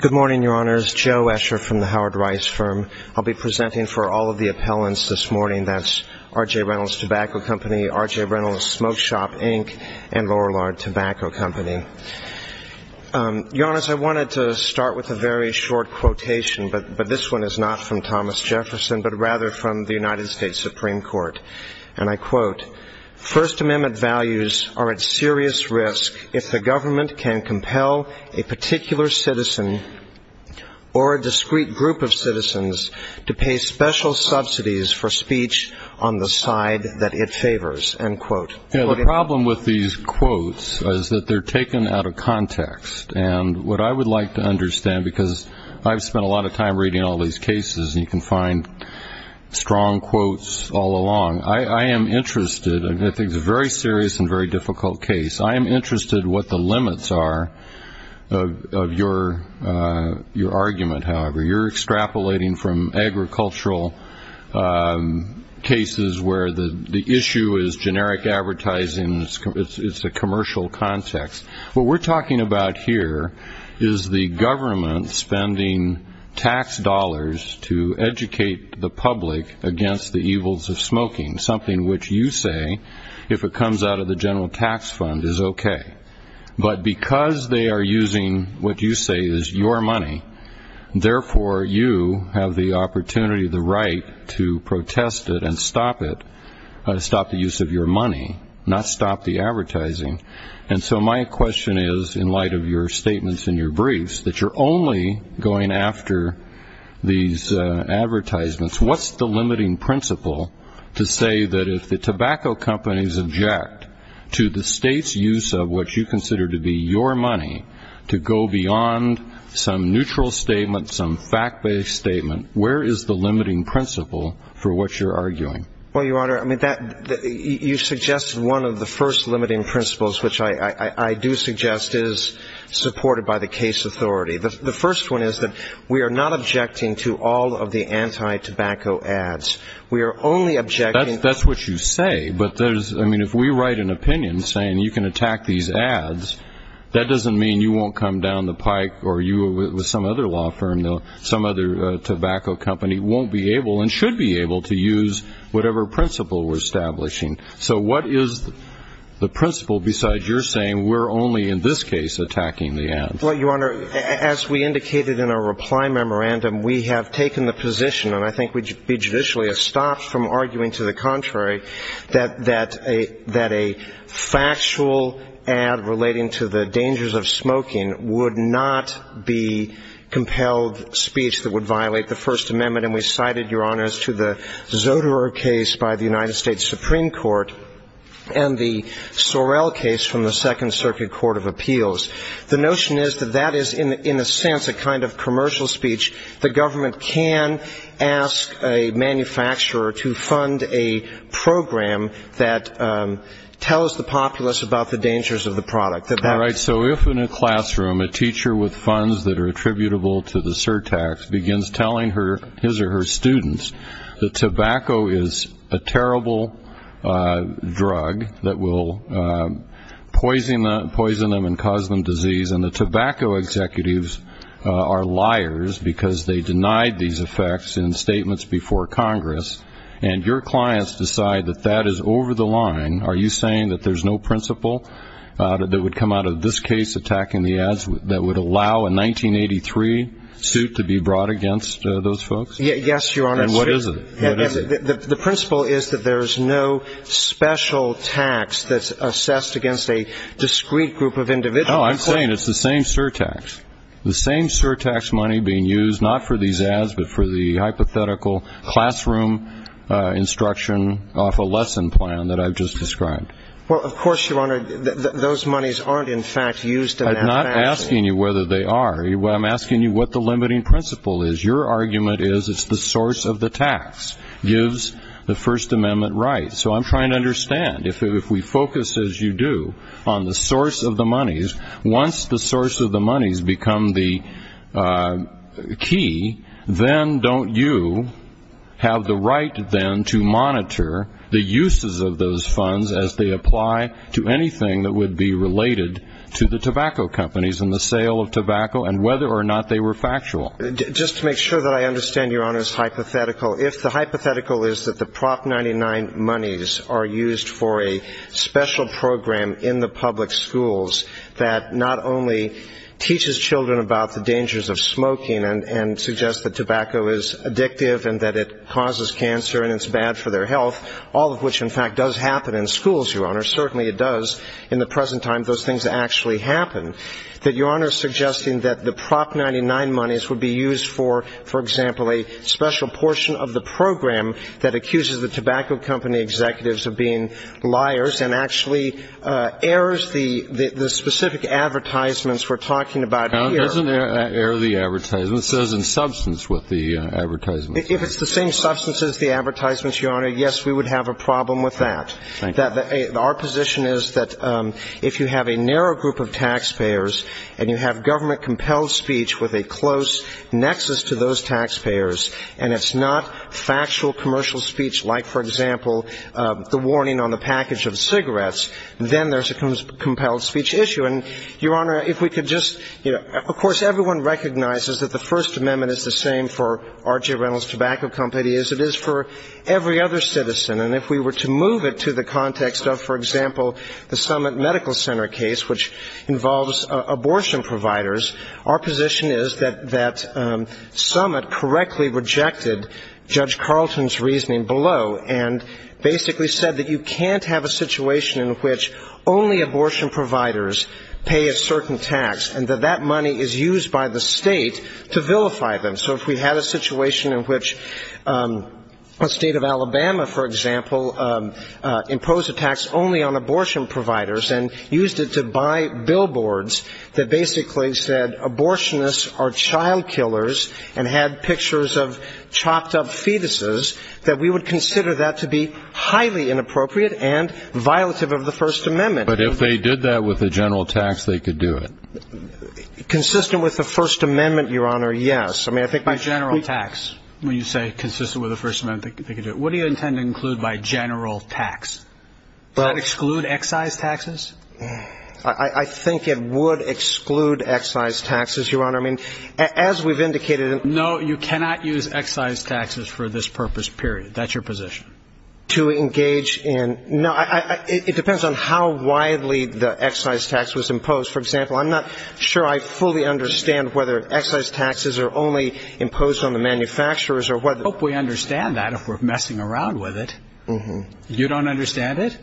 Good morning, Your Honors. Joe Escher from the Howard Rice Firm. I'll be presenting for all of the appellants this morning. That's R.J. Reynolds Tobacco Company, R.J. Reynolds Smoke Shop, Inc., and Lorillard Tobacco Company. Your Honors, I wanted to start with a very short quotation, but this one is not from Thomas Jefferson, but rather from the United States Supreme Court. And I quote, First Amendment values are at serious risk if the government can compel a particular citizen or a discrete group of citizens to pay special subsidies for speech on the side that it favors. End quote. The problem with these quotes is that they're taken out of context. And what I would like to understand, because I've spent a lot of time reading all these cases, and you can find strong quotes all along. I am interested, and I think it's a very serious and very difficult case, I am interested what the limits are of your argument, however. You're extrapolating from agricultural cases where the issue is generic advertising. It's a commercial context. What we're talking about here is the government spending tax dollars to educate the public against the evils of smoking, something which you say, if it comes out of the general tax fund, is okay. But because they are using what you say is your money, therefore you have the opportunity, the right to protest it and stop it, stop the use of your money, not stop the advertising. And so my question is, in light of your statements in your briefs, that you're only going after these advertisements. What's the limiting principle to say that if the tobacco companies object to the state's use of what you consider to be your money to go beyond some neutral statement, some fact-based statement, where is the limiting principle for what you're arguing? Well, Your Honor, you suggested one of the first limiting principles, which I do suggest is supported by the case authority. The first one is that we are not objecting to all of the anti-tobacco ads. We are only objecting to But if we write an opinion saying you can attack these ads, that doesn't mean you won't come down the pike or you or some other law firm, some other tobacco company, won't be able and should be able to use whatever principle we're establishing. So what is the principle besides your saying we're only in this case attacking the ads? Well, Your Honor, as we indicated in our reply memorandum, we have taken the position, and I think we judicially have stopped from arguing to the contrary, that a factual ad relating to the dangers of smoking would not be compelled speech that would violate the First Amendment. And we cited, Your Honor, as to the Zoderer case by the United States Supreme Court and the Sorrell case from the Second Circuit Court of Appeals. The notion is that that is, in a sense, a kind of commercial speech. The government can ask a manufacturer to fund a program that tells the populace about the dangers of the product. All right. So if in a classroom a teacher with funds that are attributable to the surtax begins telling his or her students that tobacco is a terrible drug that will poison them and cause them disease, and the tobacco executives are liars because they denied these effects in statements before Congress, and your clients decide that that is over the line, are you saying that there's no principle that would come into play? That would come out of this case attacking the ads that would allow a 1983 suit to be brought against those folks? Yes, Your Honor. And what is it? What is it? The principle is that there's no special tax that's assessed against a discrete group of individuals. No, I'm saying it's the same surtax. The same surtax money being used, not for these ads, but for the hypothetical classroom instruction off a lesson plan that I've just described. Well, of course, Your Honor, those monies aren't, in fact, used in that fashion. I'm not asking you whether they are. I'm asking you what the limiting principle is. Your argument is it's the source of the tax gives the First Amendment rights. So I'm trying to understand. If we focus, as you do, on the source of the monies, once the source of the monies become the key, then don't you have the right then to monitor the uses of those funds as they apply to anything that would be related to the tobacco companies and the sale of tobacco and whether or not they were factual? Just to make sure that I understand Your Honor's hypothetical, if the hypothetical is that the Prop. 99 monies are used for a special program in the public schools that not only teaches children about the dangers of smoking and suggests that tobacco is addictive and that it causes cancer and it's bad for their health, all of which, in fact, does happen in schools, Your Honor, certainly it does in the present time, those things actually happen, that Your Honor is suggesting that the Prop. 99 monies would be used for, for example, a special portion of the program that accuses the tobacco company executives of being liars and actually airs the specific advertisements we're talking about here. It doesn't air the advertisements. It says in substance what the advertisements are. If it's the same substance as the advertisements, Your Honor, yes, we would have a problem with that. Our position is that if you have a narrow group of taxpayers and you have government-compelled speech with a close nexus to those taxpayers and it's not factual commercial speech like, for example, the warning on the package of cigarettes, then there's a compelled speech issue. And, Your Honor, if we could just, you know, of course everyone recognizes that the First Amendment is the same for R.J. Reynolds Tobacco Company as it is for every other citizen. And if we were to move it to the context of, for example, the Summit Medical Center case, which involves abortion providers, our position is that Summit correctly rejected Judge Carlton's reasoning below and basically said that you can't have a situation in which only abortion providers, pay a certain tax and that that money is used by the state to vilify them. So if we had a situation in which the state of Alabama, for example, imposed a tax only on abortion providers and used it to buy billboards that basically said abortionists are child killers and had pictures of chopped up fetuses, that we would consider that to be highly inappropriate and violative of the First Amendment. But if they did that with the general tax, they could do it. Consistent with the First Amendment, Your Honor, yes. I mean, I think by general tax, when you say consistent with the First Amendment, they could do it. What do you intend to include by general tax? Does that exclude excise taxes? I think it would exclude excise taxes, Your Honor. I mean, as we've indicated. No, you cannot use excise taxes for this purpose, period. That's your position. To engage in ñ it depends on how widely the excise tax was imposed. For example, I'm not sure I fully understand whether excise taxes are only imposed on the manufacturers or whether ñ I hope we understand that if we're messing around with it. You don't understand it?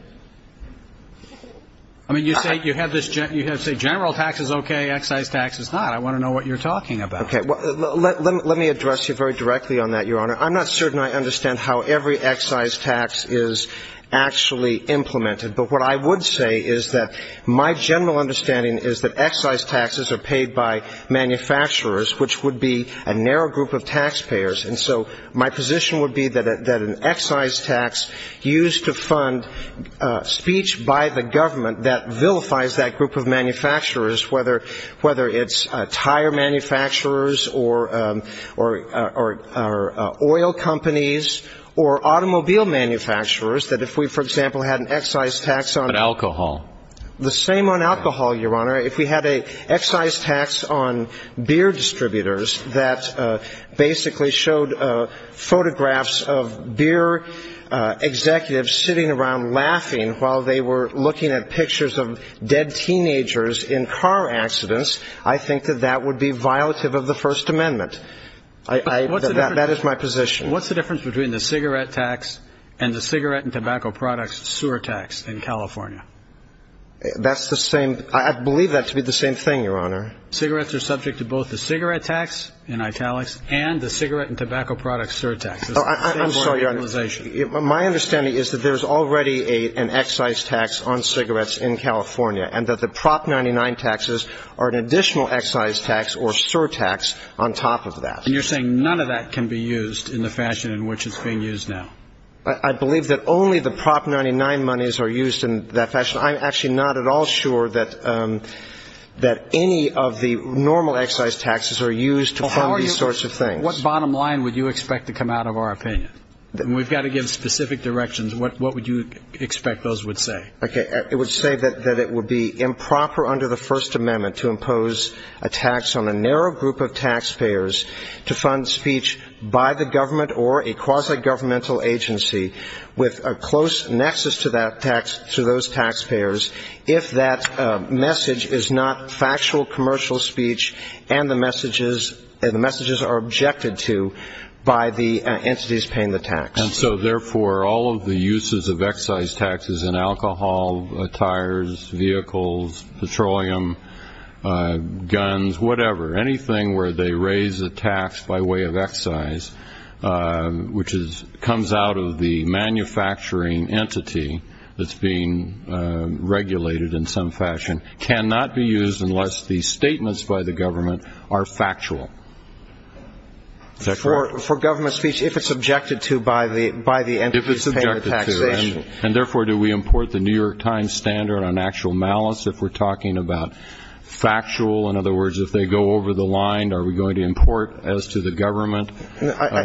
I mean, you say ñ you have this ñ you say general tax is okay, excise tax is not. I want to know what you're talking about. Okay. Let me address you very directly on that, Your Honor. I'm not certain I understand how every excise tax is actually implemented. But what I would say is that my general understanding is that excise taxes are paid by manufacturers, which would be a narrow group of taxpayers. And so my position would be that an excise tax used to fund speech by the government that vilifies that group of manufacturers, whether it's tire manufacturers or oil companies or automobile manufacturers, that if we, for example, had an excise tax on ñ But alcohol. The same on alcohol, Your Honor. If we had an excise tax on beer distributors that basically showed photographs of beer executives sitting around laughing while they were looking at pictures of dead teenagers in car accidents, I think that that would be violative of the First Amendment. That is my position. What's the difference between the cigarette tax and the cigarette and tobacco products sewer tax in California? That's the same ñ I believe that to be the same thing, Your Honor. Cigarettes are subject to both the cigarette tax in italics and the cigarette and tobacco products sewer tax. My understanding is that there's already an excise tax on cigarettes in California and that the Prop. 99 taxes are an additional excise tax or sewer tax on top of that. And you're saying none of that can be used in the fashion in which it's being used now? I believe that only the Prop. 99 monies are used in that fashion. I'm actually not at all sure that any of the normal excise taxes are used to fund these sorts of things. What bottom line would you expect to come out of our opinion? We've got to give specific directions. What would you expect those would say? It would say that it would be improper under the First Amendment to impose a tax on a narrow group of taxpayers to fund speech by the government or a quasi-governmental agency with a close nexus to those taxpayers if that message is not factual commercial speech and the messages are objected to by the entities paying the tax. And so, therefore, all of the uses of excise taxes in alcohol, tires, vehicles, petroleum, guns, whatever, anything where they raise a tax by way of excise, which comes out of the manufacturing entity that's being regulated in some fashion, cannot be used unless the statements by the government are factual. For government speech, if it's objected to by the entities paying the taxation. And, therefore, do we import the New York Times standard on actual malice if we're talking about factual? In other words, if they go over the line, are we going to import, as to the government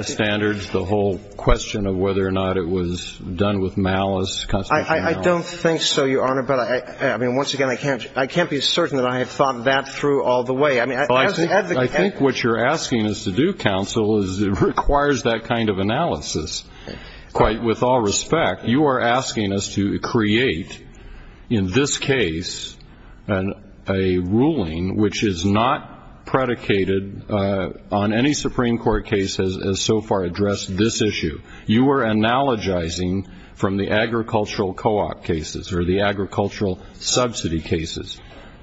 standards, the whole question of whether or not it was done with malice, constitutional malice? I don't think so, Your Honor. But, I mean, once again, I can't be certain that I have thought that through all the way. I mean, as an advocate. Well, I think what you're asking us to do, counsel, is it requires that kind of analysis. With all respect, you are asking us to create, in this case, a ruling which is not predicated on any Supreme Court case as so far addressed this issue. You are analogizing from the agricultural co-op cases or the agricultural subsidy cases.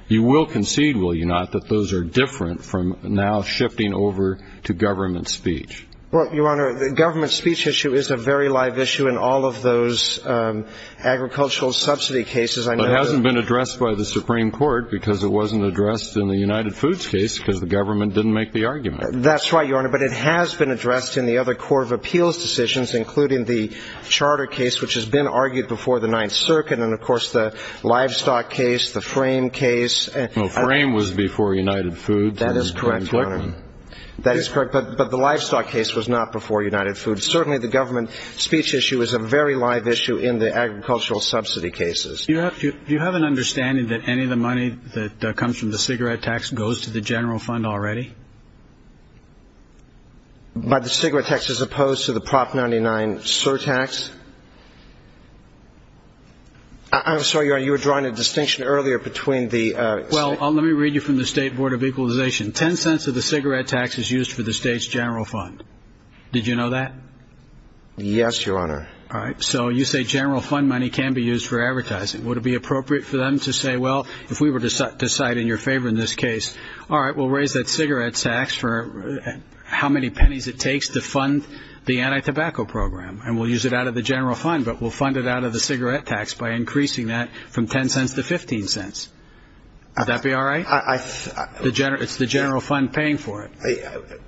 You will concede, will you not, that those are different from now shifting over to government speech? Well, Your Honor, the government speech issue is a very live issue in all of those agricultural subsidy cases. But it hasn't been addressed by the Supreme Court because it wasn't addressed in the United Foods case because the government didn't make the argument. That's right, Your Honor. But it has been addressed in the other Court of Appeals decisions, including the charter case, which has been argued before the Ninth Circuit, and, of course, the livestock case, the frame case. Well, frame was before United Foods. That is correct, Your Honor. That is correct, but the livestock case was not before United Foods. Certainly the government speech issue is a very live issue in the agricultural subsidy cases. Do you have an understanding that any of the money that comes from the cigarette tax goes to the general fund already? But the cigarette tax is opposed to the Prop. 99 surtax. I'm sorry, Your Honor, you were drawing a distinction earlier between the... Well, let me read you from the state board of equalization. Ten cents of the cigarette tax is used for the state's general fund. Did you know that? Yes, Your Honor. All right. So you say general fund money can be used for advertising. Would it be appropriate for them to say, well, if we were to decide in your favor in this case, all right, we'll raise that cigarette tax for how many pennies it takes to fund the anti-tobacco program, and we'll use it out of the general fund, but we'll fund it out of the cigarette tax by increasing that from 10 cents to 15 cents. Would that be all right? It's the general fund paying for it.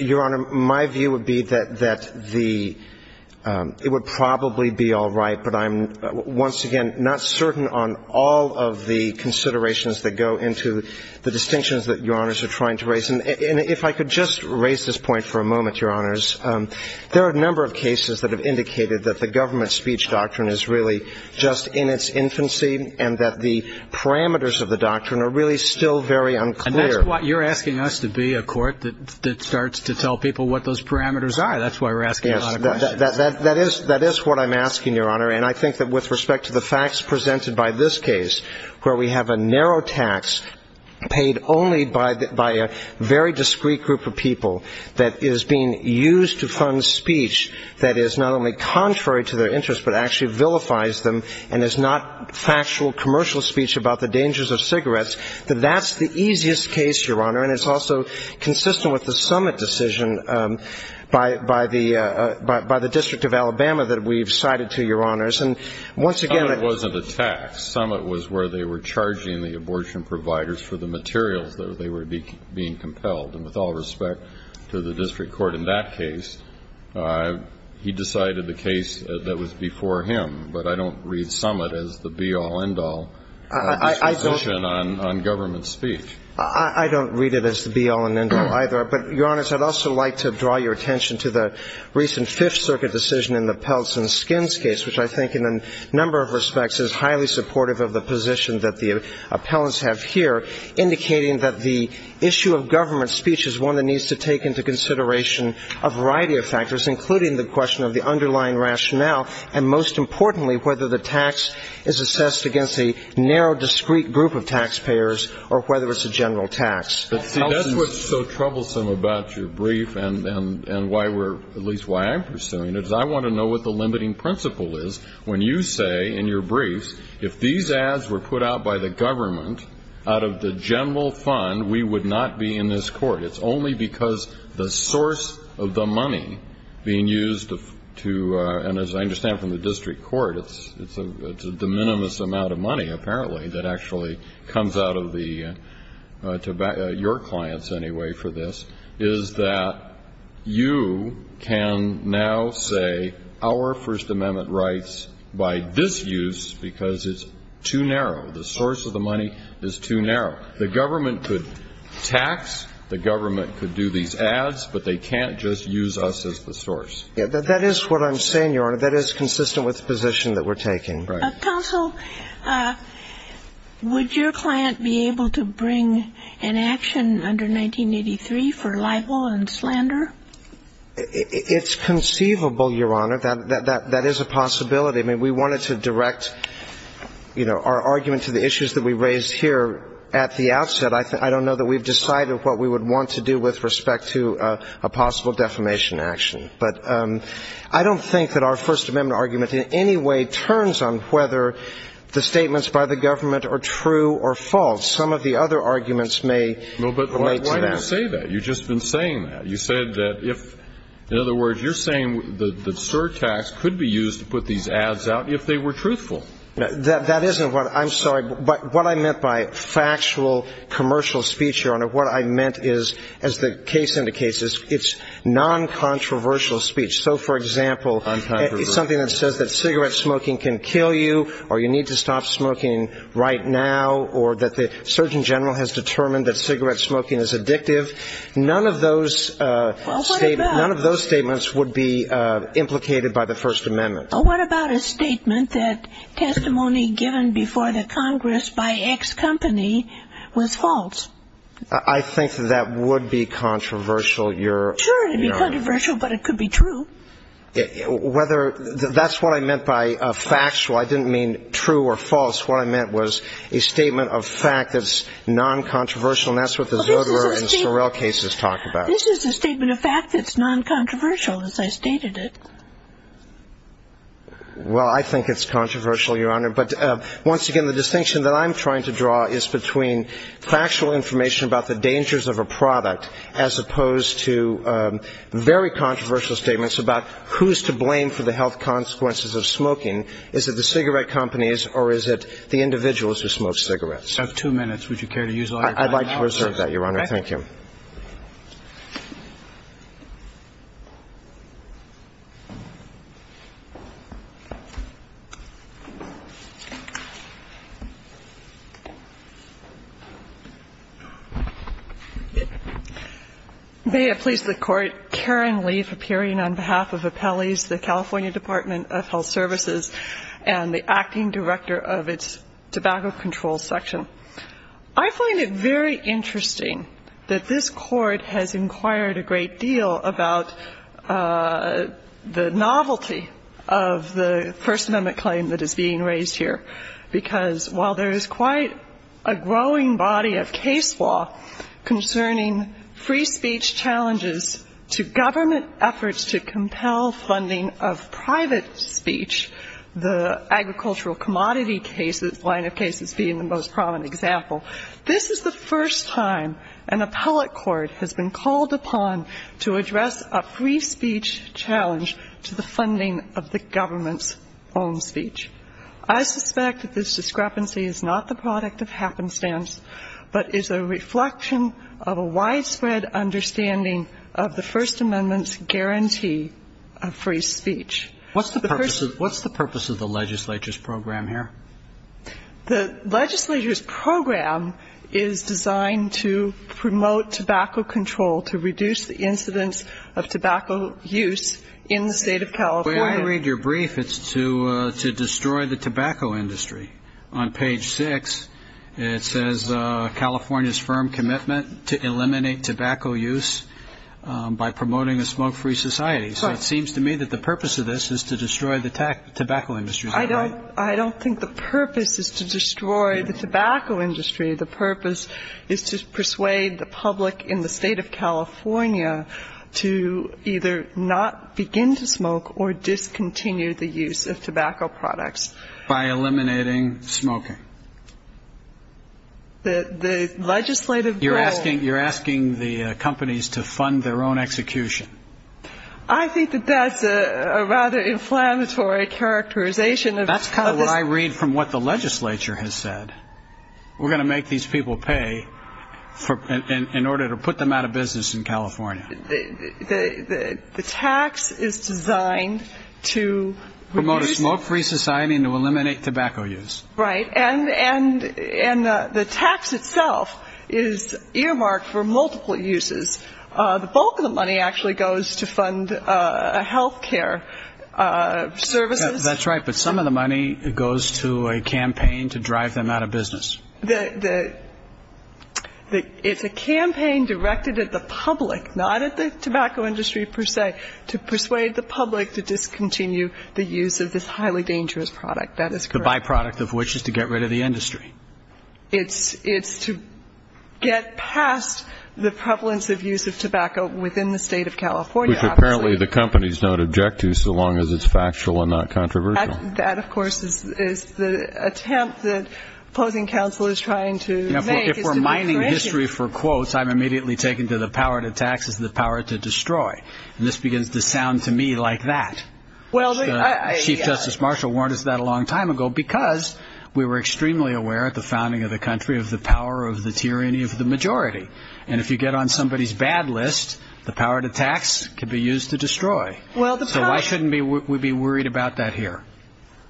Your Honor, my view would be that the – it would probably be all right, but I'm once again not certain on all of the considerations that go into the distinctions that Your Honors are trying to raise. And if I could just raise this point for a moment, Your Honors, there are a number of cases that have indicated that the government speech doctrine is really just in its infancy and that the parameters of the doctrine are really still very unclear. And that's why you're asking us to be a court that starts to tell people what those parameters are. That's why we're asking a lot of questions. That is what I'm asking, Your Honor. And I think that with respect to the facts presented by this case, where we have a narrow tax paid only by a very discreet group of people that is being used to fund speech that is not only contrary to their interests but actually vilifies them and is not factual commercial speech about the dangers of cigarettes, that that's the easiest case, Your Honor. And it's also consistent with the summit decision by the District of Alabama that we've cited to, Your Honors. And once again – The summit wasn't a tax. The summit was where they were charging the abortion providers for the materials that they were being compelled. And with all respect to the district court in that case, he decided the case that was before him. But I don't read summit as the be-all, end-all position on government speech. I don't read it as the be-all and end-all either. But, Your Honors, I'd also like to draw your attention to the recent Fifth Circuit decision in the Peltz and Skins case, which I think in a number of respects is highly supportive of the position that the appellants have here, indicating that the issue of government speech is one that needs to take into consideration a variety of factors, including the question of the underlying rationale and, most importantly, whether the tax is assessed against a narrow, discreet group of taxpayers or whether it's a general tax. But, see, that's what's so troublesome about your brief and why we're – at least why I'm pursuing it, is I want to know what the limiting principle is when you say in your briefs, if these ads were put out by the government, out of the general fund, we would not be in this court. It's only because the source of the money being used to – and as I understand from the district court, it's a de minimis amount of money, apparently, that actually comes out of the – to your clients, anyway, for this, is that you can now say our First Amendment rights by this use because it's too narrow. The source of the money is too narrow. The government could tax, the government could do these ads, but they can't just use us as the source. That is what I'm saying, Your Honor. That is consistent with the position that we're taking. Right. Counsel, would your client be able to bring an action under 1983 for libel and slander? It's conceivable, Your Honor. That is a possibility. I mean, we wanted to direct, you know, our argument to the issues that we raised here at the outset. I don't know that we've decided what we would want to do with respect to a possible defamation action. But I don't think that our First Amendment argument in any way turns on whether the statements by the government are true or false. Some of the other arguments may relate to that. No, but why do you say that? You've just been saying that. You said that if – in other words, you're saying that surtax could be used to put these ads out if they were truthful. That isn't what – I'm sorry. What I meant by factual commercial speech, Your Honor, what I meant is, as the case indicates, it's non-controversial speech. So, for example, something that says that cigarette smoking can kill you or you need to stop smoking right now or that the Surgeon General has determined that cigarette smoking is addictive, none of those statements would be implicated by the First Amendment. Well, what about a statement that testimony given before the Congress by X company was false? I think that that would be controversial, Your Honor. Sure, it would be controversial, but it could be true. Whether – that's what I meant by factual. I didn't mean true or false. What I meant was a statement of fact that's non-controversial, and that's what the Zoderer and Sorrell cases talk about. This is a statement of fact that's non-controversial, as I stated it. Well, I think it's controversial, Your Honor. But, once again, the distinction that I'm trying to draw is between factual information about the dangers of a product as opposed to very controversial statements about who's to blame for the health consequences of smoking. Is it the cigarette companies or is it the individuals who smoke cigarettes? I have two minutes. Would you care to use all your time? I'd like to reserve that, Your Honor. Thank you. May it please the Court. Karen Leaf, appearing on behalf of Appellee's, the California Department of Health Services, and the acting director of its Tobacco Control Section. I find it very interesting that this Court has inquired a great deal about the novelty of the First Amendment claim that is being raised here, because while there is quite a growing body of case law concerning free speech challenges to government efforts to compel funding of private speech, the agricultural commodity cases, line of cases being the most prominent example, this is the first time an appellate court has been called upon to address a free speech challenge to the funding of the government's own speech. I suspect that this discrepancy is not the product of happenstance, but is a reflection of a widespread understanding of the First Amendment's guarantee of free speech. What's the purpose of the legislature's program here? The legislature's program is designed to promote tobacco control, to reduce the incidence of tobacco use in the State of California. When I read your brief, it's to destroy the tobacco industry. On page 6, it says California's firm commitment to eliminate tobacco use by promoting a smoke-free society. So it seems to me that the purpose of this is to destroy the tobacco industry. I don't think the purpose is to destroy the tobacco industry. The purpose is to persuade the public in the State of California to either not begin to smoke or discontinue the use of tobacco products. By eliminating smoking. The legislative goal. You're asking the companies to fund their own execution. I think that that's a rather inflammatory characterization. That's kind of what I read from what the legislature has said. We're going to make these people pay in order to put them out of business in California. The tax is designed to reduce. Promote a smoke-free society and to eliminate tobacco use. Right. And the tax itself is earmarked for multiple uses. The bulk of the money actually goes to fund health care services. That's right. But some of the money goes to a campaign to drive them out of business. It's a campaign directed at the public, not at the tobacco industry per se, to persuade the public to discontinue the use of this highly dangerous product. That is correct. The byproduct of which is to get rid of the industry. It's to get past the prevalence of use of tobacco within the state of California. Which apparently the companies don't object to so long as it's factual and not controversial. That, of course, is the attempt that opposing counsel is trying to make. If we're mining history for quotes, I'm immediately taken to the power to tax is the power to destroy. And this begins to sound to me like that. Chief Justice Marshall warned us that a long time ago because we were extremely aware at the founding of the country of the power of the tyranny of the majority. And if you get on somebody's bad list, the power to tax could be used to destroy. So why shouldn't we be worried about that here?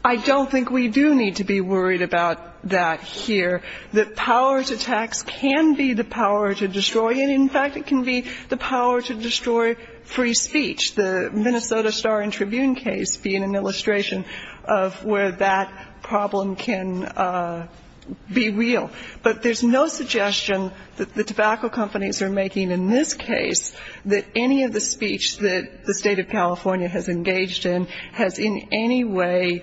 I don't think we do need to be worried about that here. The power to tax can be the power to destroy. In fact, it can be the power to destroy free speech. The Minnesota Star and Tribune case being an illustration of where that problem can be real. But there's no suggestion that the tobacco companies are making in this case that any of the speech that the state of California has engaged in has in any way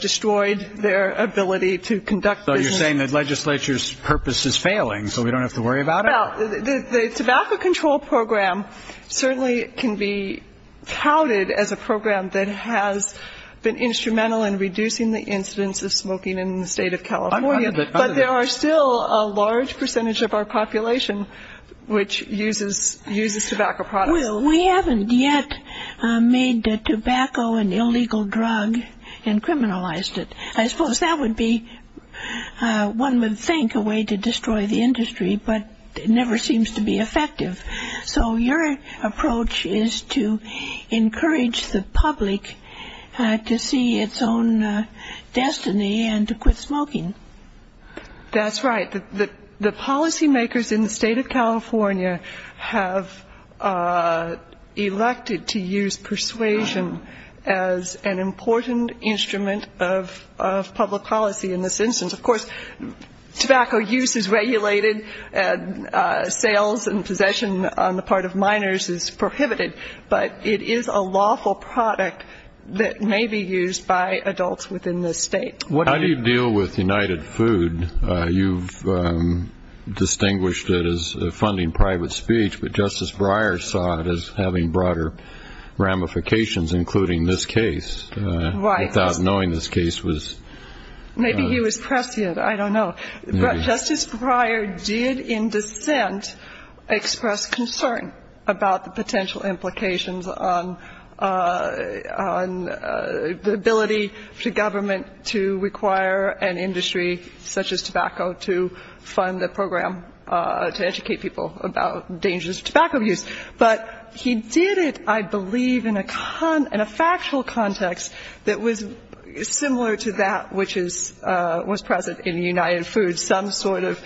destroyed their ability to conduct business. So you're saying that legislature's purpose is failing so we don't have to worry about it? Well, the tobacco control program certainly can be touted as a program that has been instrumental in reducing the incidence of smoking in the state of California. But there are still a large percentage of our population which uses tobacco products. Well, we haven't yet made tobacco an illegal drug and criminalized it. I suppose that would be, one would think, a way to destroy the industry. But it never seems to be effective. So your approach is to encourage the public to see its own destiny and to quit smoking. That's right. The policymakers in the state of California have elected to use persuasion as an important instrument of public policy in this instance. Of course, tobacco use is regulated. Sales and possession on the part of minors is prohibited. But it is a lawful product that may be used by adults within this state. How do you deal with United Food? You've distinguished it as funding private speech, but Justice Breyer saw it as having broader ramifications, including this case. Right. Without knowing this case was ---- Maybe he was prescient. I don't know. Justice Breyer did in dissent express concern about the potential implications on the ability for government to require an industry such as tobacco to fund the program to educate people about dangerous tobacco use. But he did it, I believe, in a factual context that was similar to that which was present in United Food, some sort of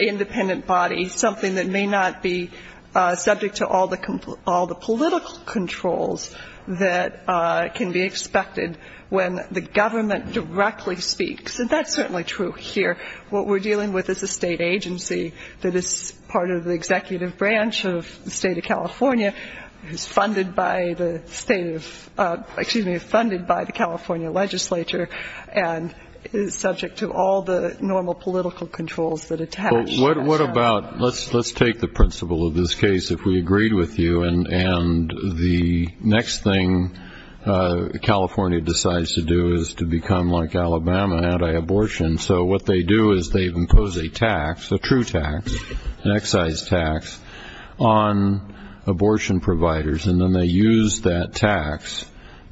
independent body, something that may not be subject to all the political controls that can be expected when the government directly speaks. And that's certainly true here. What we're dealing with is a state agency that is part of the executive branch of the state of California, is funded by the state of ---- excuse me, funded by the California legislature, and is subject to all the normal political controls that attach. Well, what about ---- let's take the principle of this case, if we agreed with you, and the next thing California decides to do is to become like Alabama, anti-abortion. So what they do is they impose a tax, a true tax, an excise tax, on abortion providers, and then they use that tax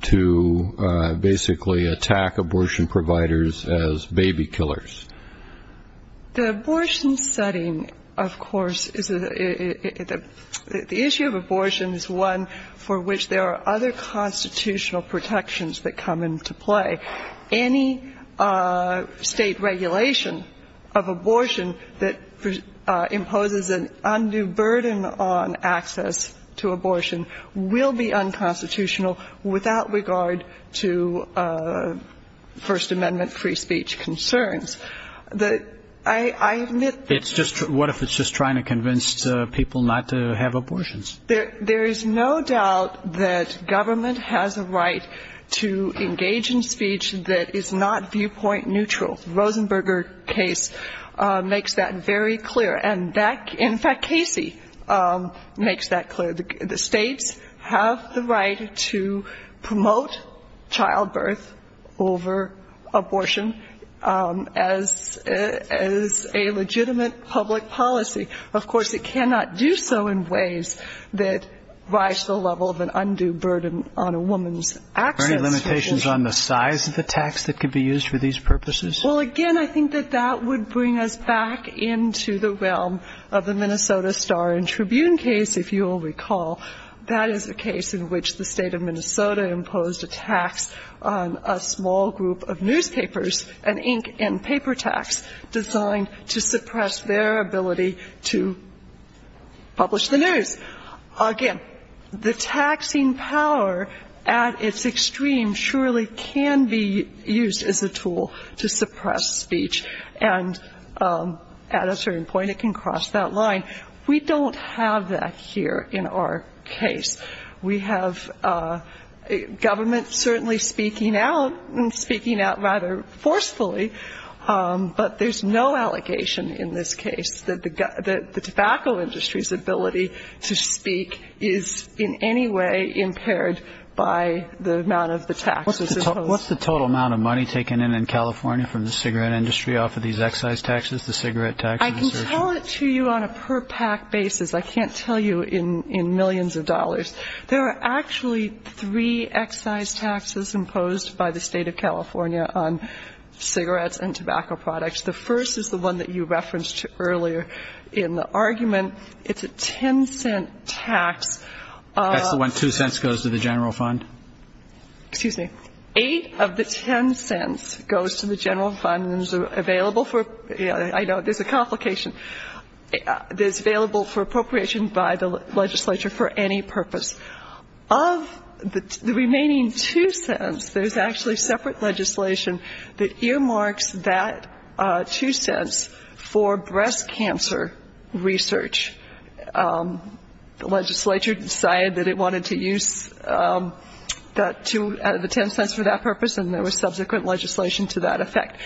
to basically attack abortion providers as baby killers. The abortion setting, of course, the issue of abortion is one for which there are other constitutional protections that come into play. Any state regulation of abortion that imposes an undue burden on access to abortion will be unconstitutional without regard to First Amendment free speech concerns. I admit ---- What if it's just trying to convince people not to have abortions? There is no doubt that government has a right to engage in speech that is not viewpoint neutral. The Rosenberger case makes that very clear, and that ---- in fact, Casey makes that clear. The states have the right to promote childbirth over abortion as a legitimate public policy. Of course, it cannot do so in ways that rise to the level of an undue burden on a woman's access to abortion. Are there any limitations on the size of the tax that could be used for these purposes? Well, again, I think that that would bring us back into the realm of the Minnesota Star and Tribune case, if you will recall. That is a case in which the State of Minnesota imposed a tax on a small group of newspapers, an ink and paper tax designed to suppress their ability to publish the news. Again, the taxing power at its extreme surely can be used as a tool to suppress speech, and at a certain point it can cross that line. We don't have that here in our case. We have government certainly speaking out, and speaking out rather forcefully, but there's no allegation in this case that the tobacco industry's ability to speak is in any way impaired by the amount of the taxes imposed. What's the total amount of money taken in in California from the cigarette industry off of these excise taxes, the cigarette taxes? I can tell it to you on a per-pack basis. I can't tell you in millions of dollars. There are actually three excise taxes imposed by the State of California on cigarettes and tobacco products. The first is the one that you referenced earlier in the argument. It's a ten-cent tax. That's the one two cents goes to the general fund? Excuse me. Eight of the ten cents goes to the general fund and is available for ‑‑I know, there's a complication. It's available for appropriation by the legislature for any purpose. Of the remaining two cents, there's actually separate legislation that earmarks that two cents for breast cancer research. The legislature decided that it wanted to use the ten cents for that purpose, and there was subsequent legislation to that effect.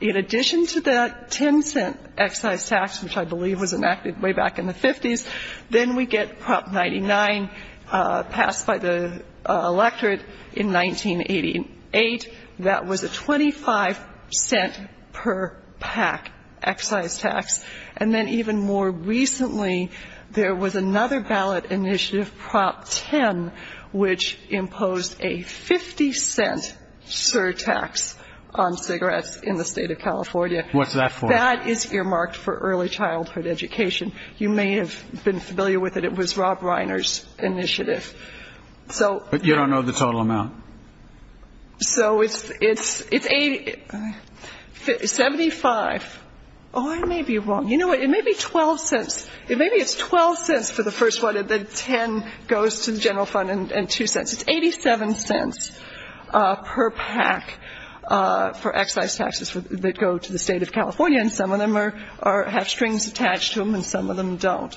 In addition to that ten-cent excise tax, which I believe was enacted way back in the 50s, then we get Prop 99 passed by the electorate in 1988. That was a 25 cent per-pack excise tax. And then even more recently, there was another ballot initiative, Prop 10, which imposed a 50 cent surtax on cigarettes in the State of California. What's that for? That is earmarked for early childhood education. You may have been familiar with it. It was Rob Reiner's initiative. But you don't know the total amount. So it's 75. Oh, I may be wrong. You know what? It may be 12 cents. For the first one, the 10 goes to the general fund and two cents. It's 87 cents per pack for excise taxes that go to the State of California, and some of them have strings attached to them and some of them don't.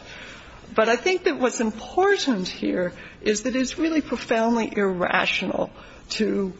But I think that what's important here is that it's really profoundly irrational to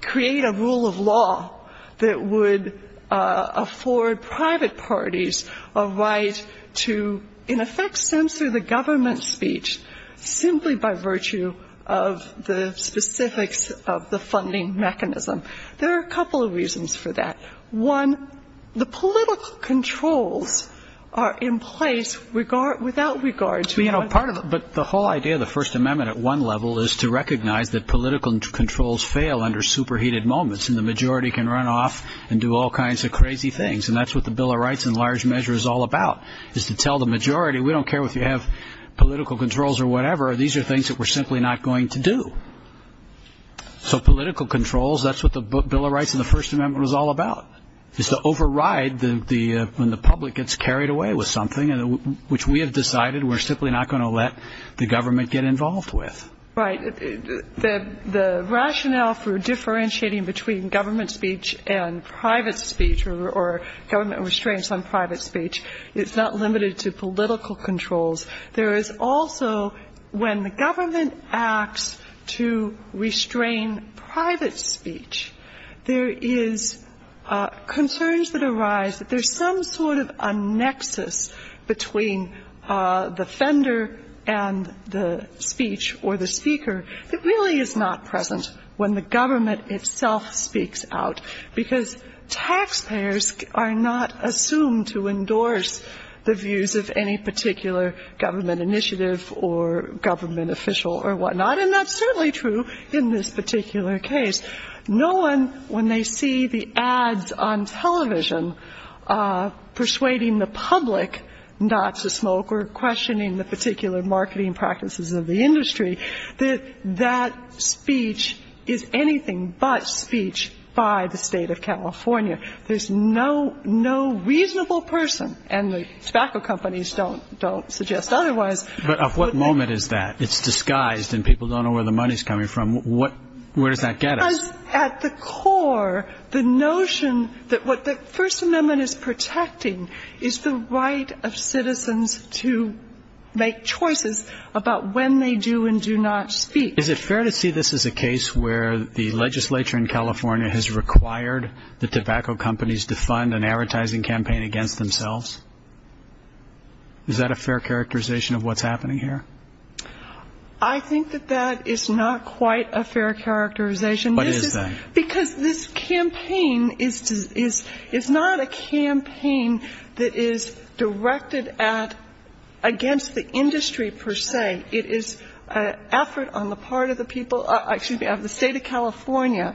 create a rule of law that would afford private parties a right to, in effect, censor the government's speech, simply by virtue of the specifics of the funding mechanism. There are a couple of reasons for that. One, the political controls are in place without regard to one part of it. But the whole idea of the First Amendment at one level is to recognize that political controls fail under superheated moments and the majority can run off and do all kinds of crazy things, and that's what the Bill of Rights in large measure is all about, is to tell the majority, we don't care if you have political controls or whatever, these are things that we're simply not going to do. So political controls, that's what the Bill of Rights in the First Amendment was all about, is to override when the public gets carried away with something, which we have decided we're simply not going to let the government get involved with. Right. The rationale for differentiating between government speech and private speech or government restraints on private speech, it's not limited to political controls. There is also, when the government acts to restrain private speech, there is concerns that arise that there's some sort of a nexus between the offender and the speech or the speaker that really is not present when the government itself speaks out, because taxpayers are not assumed to endorse the views of any particular government initiative or government official or whatnot, and that's certainly true in this particular case. No one, when they see the ads on television persuading the public not to smoke or questioning the particular marketing practices of the industry, that that speech is anything but speech by the State of California. There's no reasonable person, and the tobacco companies don't suggest otherwise. But at what moment is that? It's disguised and people don't know where the money is coming from. Where does that get us? Because at the core, the notion that what the First Amendment is protecting is the right of citizens to make choices about when they do and do not speak. Is it fair to see this as a case where the legislature in California has required the tobacco companies to fund an advertising campaign against themselves? Is that a fair characterization of what's happening here? I think that that is not quite a fair characterization. What is that? Because this campaign is not a campaign that is directed at against the industry per se. It is an effort on the part of the people of the State of California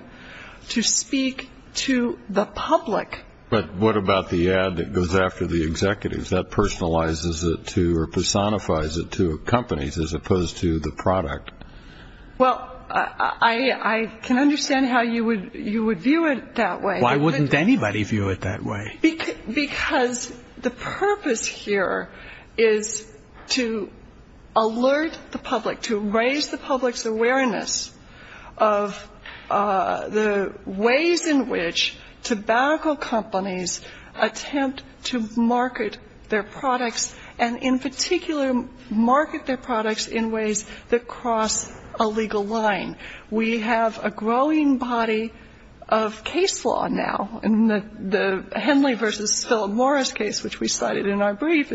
to speak to the public. But what about the ad that goes after the executives? What if that personalizes it to or personifies it to companies as opposed to the product? Well, I can understand how you would view it that way. Why wouldn't anybody view it that way? Because the purpose here is to alert the public, to raise the public's awareness of the ways in which tobacco companies attempt to market their products and in particular market their products in ways that cross a legal line. We have a growing body of case law now. In the Henley v. Philip Morris case, which we cited in our brief,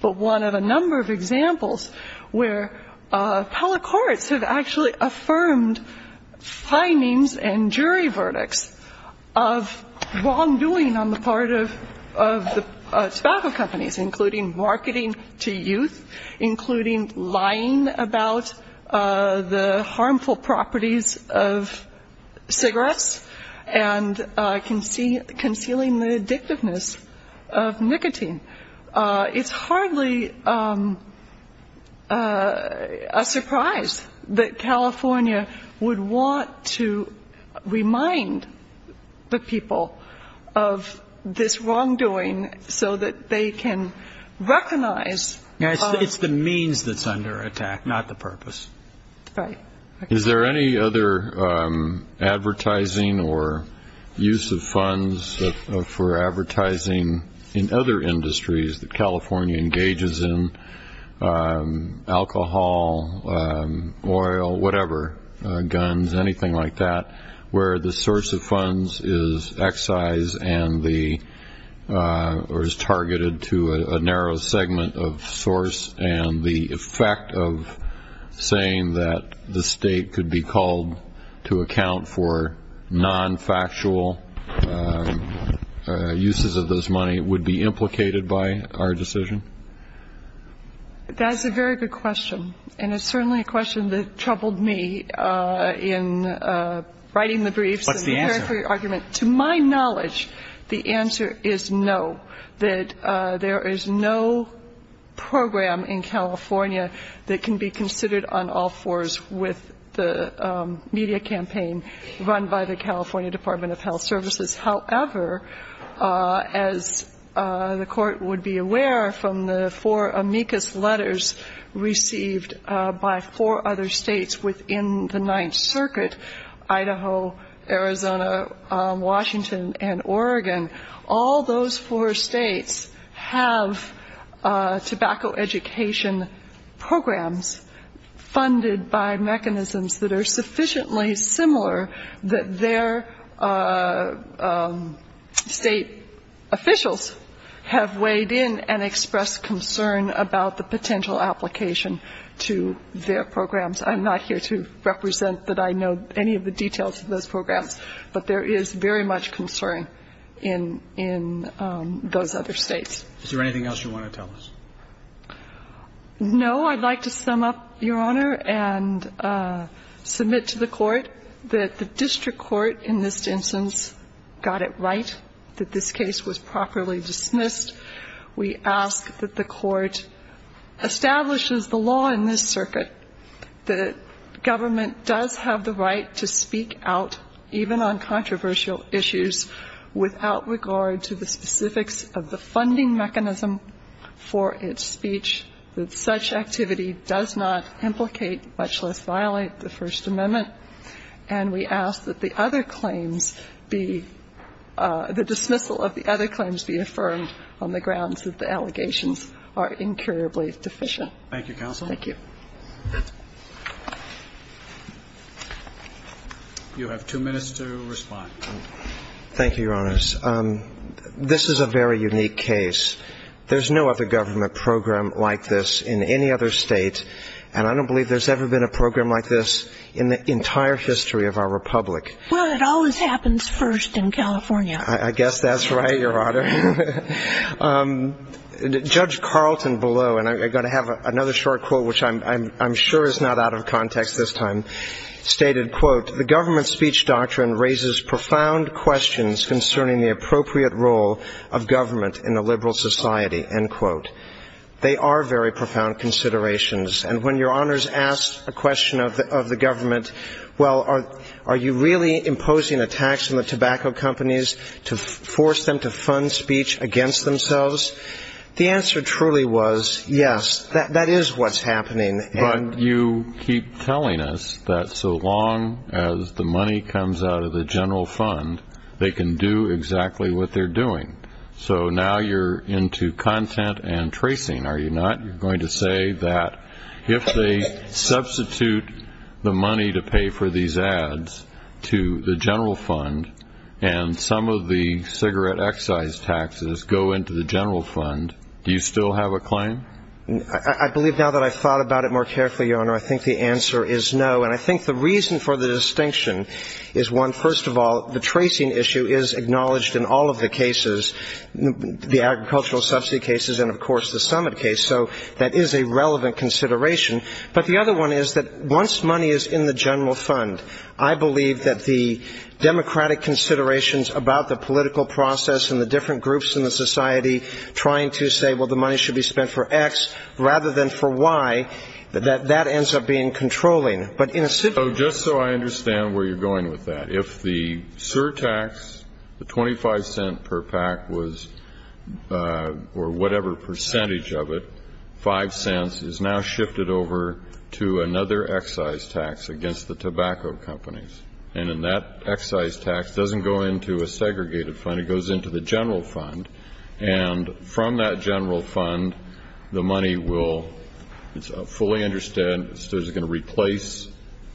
but one of a number of examples where public courts have actually affirmed findings and jury verdicts of wrongdoing on the part of the tobacco companies, including marketing to youth, including lying about the harmful properties of cigarettes and concealing the addictiveness of nicotine. It's hardly a surprise that California would want to remind the people of this wrongdoing so that they can recognize. It's the means that's under attack, not the purpose. Right. Is there any other advertising or use of funds for advertising in other industries that California engages in, alcohol, oil, whatever, guns, anything like that, where the source of funds is excised or is targeted to a narrow segment of source and the effect of saying that the state could be called to account for non-factual uses of this money would be implicated by our decision? That's a very good question, and it's certainly a question that troubled me in writing the briefs. What's the answer? To my knowledge, the answer is no, that there is no program in California that can be considered on all fours with the media campaign run by the California Department of Health Services. However, as the Court would be aware from the four amicus letters received by four other states within the Ninth Circuit, Idaho, Arizona, Washington, and Oregon, all those four states have tobacco education programs funded by mechanisms that are sufficiently similar that their state officials have weighed in and expressed concern about the potential application to their programs. I'm not here to represent that I know any of the details of those programs, but there is very much concern in those other states. Is there anything else you want to tell us? No. I'd like to sum up, Your Honor, and submit to the Court that the district court in this instance got it right, that this case was properly dismissed. We ask that the Court establishes the law in this circuit, that government does have the right to speak out even on controversial issues without regard to the specifics of the funding mechanism for its speech, that such activity does not implicate, much less violate, the First Amendment. And we ask that the other claims be the dismissal of the other claims be affirmed on the grounds that the allegations are incurably deficient. Thank you, counsel. Thank you. You have two minutes to respond. Thank you, Your Honors. This is a very unique case. There's no other government program like this in any other state, and I don't believe there's ever been a program like this in the entire history of our republic. Well, it always happens first in California. I guess that's right, Your Honor. Judge Carlton below, and I'm going to have another short quote, which I'm sure is not out of context this time, stated, quote, The government speech doctrine raises profound questions concerning the appropriate role of government in a liberal society. End quote. They are very profound considerations. And when Your Honors asked a question of the government, well, are you really imposing a tax on the tobacco companies to force them to fund speech against themselves, the answer truly was, yes, that is what's happening. But you keep telling us that so long as the money comes out of the general fund, they can do exactly what they're doing. So now you're into content and tracing, are you not? You're going to say that if they substitute the money to pay for these ads to the general fund and some of the cigarette excise taxes go into the general fund, do you still have a claim? I believe now that I've thought about it more carefully, Your Honor, I think the answer is no. And I think the reason for the distinction is, one, first of all, the tracing issue is acknowledged in all of the cases, the agricultural subsidy cases and, of course, the summit case. So that is a relevant consideration. But the other one is that once money is in the general fund, I believe that the democratic considerations about the political process and the different groups in the society trying to say, well, the money should be spent for X rather than for Y, that that ends up being controlling. So just so I understand where you're going with that, if the surtax, the $0.25 per pack was or whatever percentage of it, $0.05 is now shifted over to another excise tax against the tobacco companies. And then that excise tax doesn't go into a segregated fund. It goes into the general fund. And from that general fund, the money will be fully understood. It's going to replace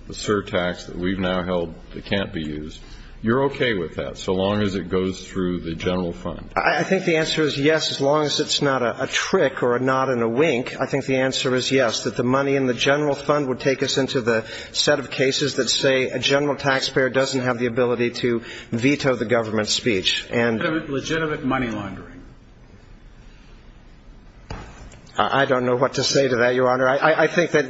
the surtax that we've now held that can't be used. You're okay with that so long as it goes through the general fund? I think the answer is yes, as long as it's not a trick or a nod and a wink. I think the answer is yes, that the money in the general fund would take us into the set of cases that say a general taxpayer doesn't have the ability to veto the government's speech. Legitimate money laundering. I don't know what to say to that, Your Honor. I think that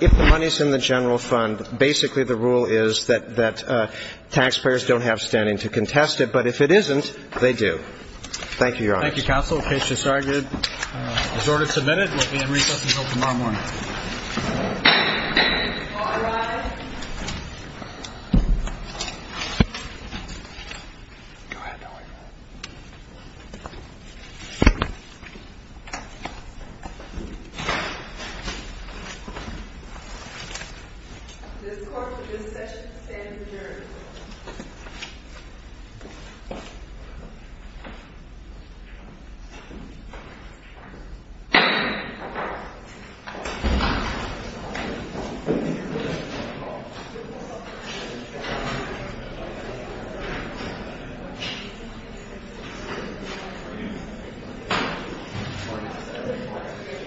if the money's in the general fund, basically the rule is that taxpayers don't have standing to contest it. But if it isn't, they do. Thank you, Your Honor. Thank you, counsel. The case is argued. Is order submitted? Let me recess until tomorrow morning. All rise. This court for this session stands adjourned. Thank you.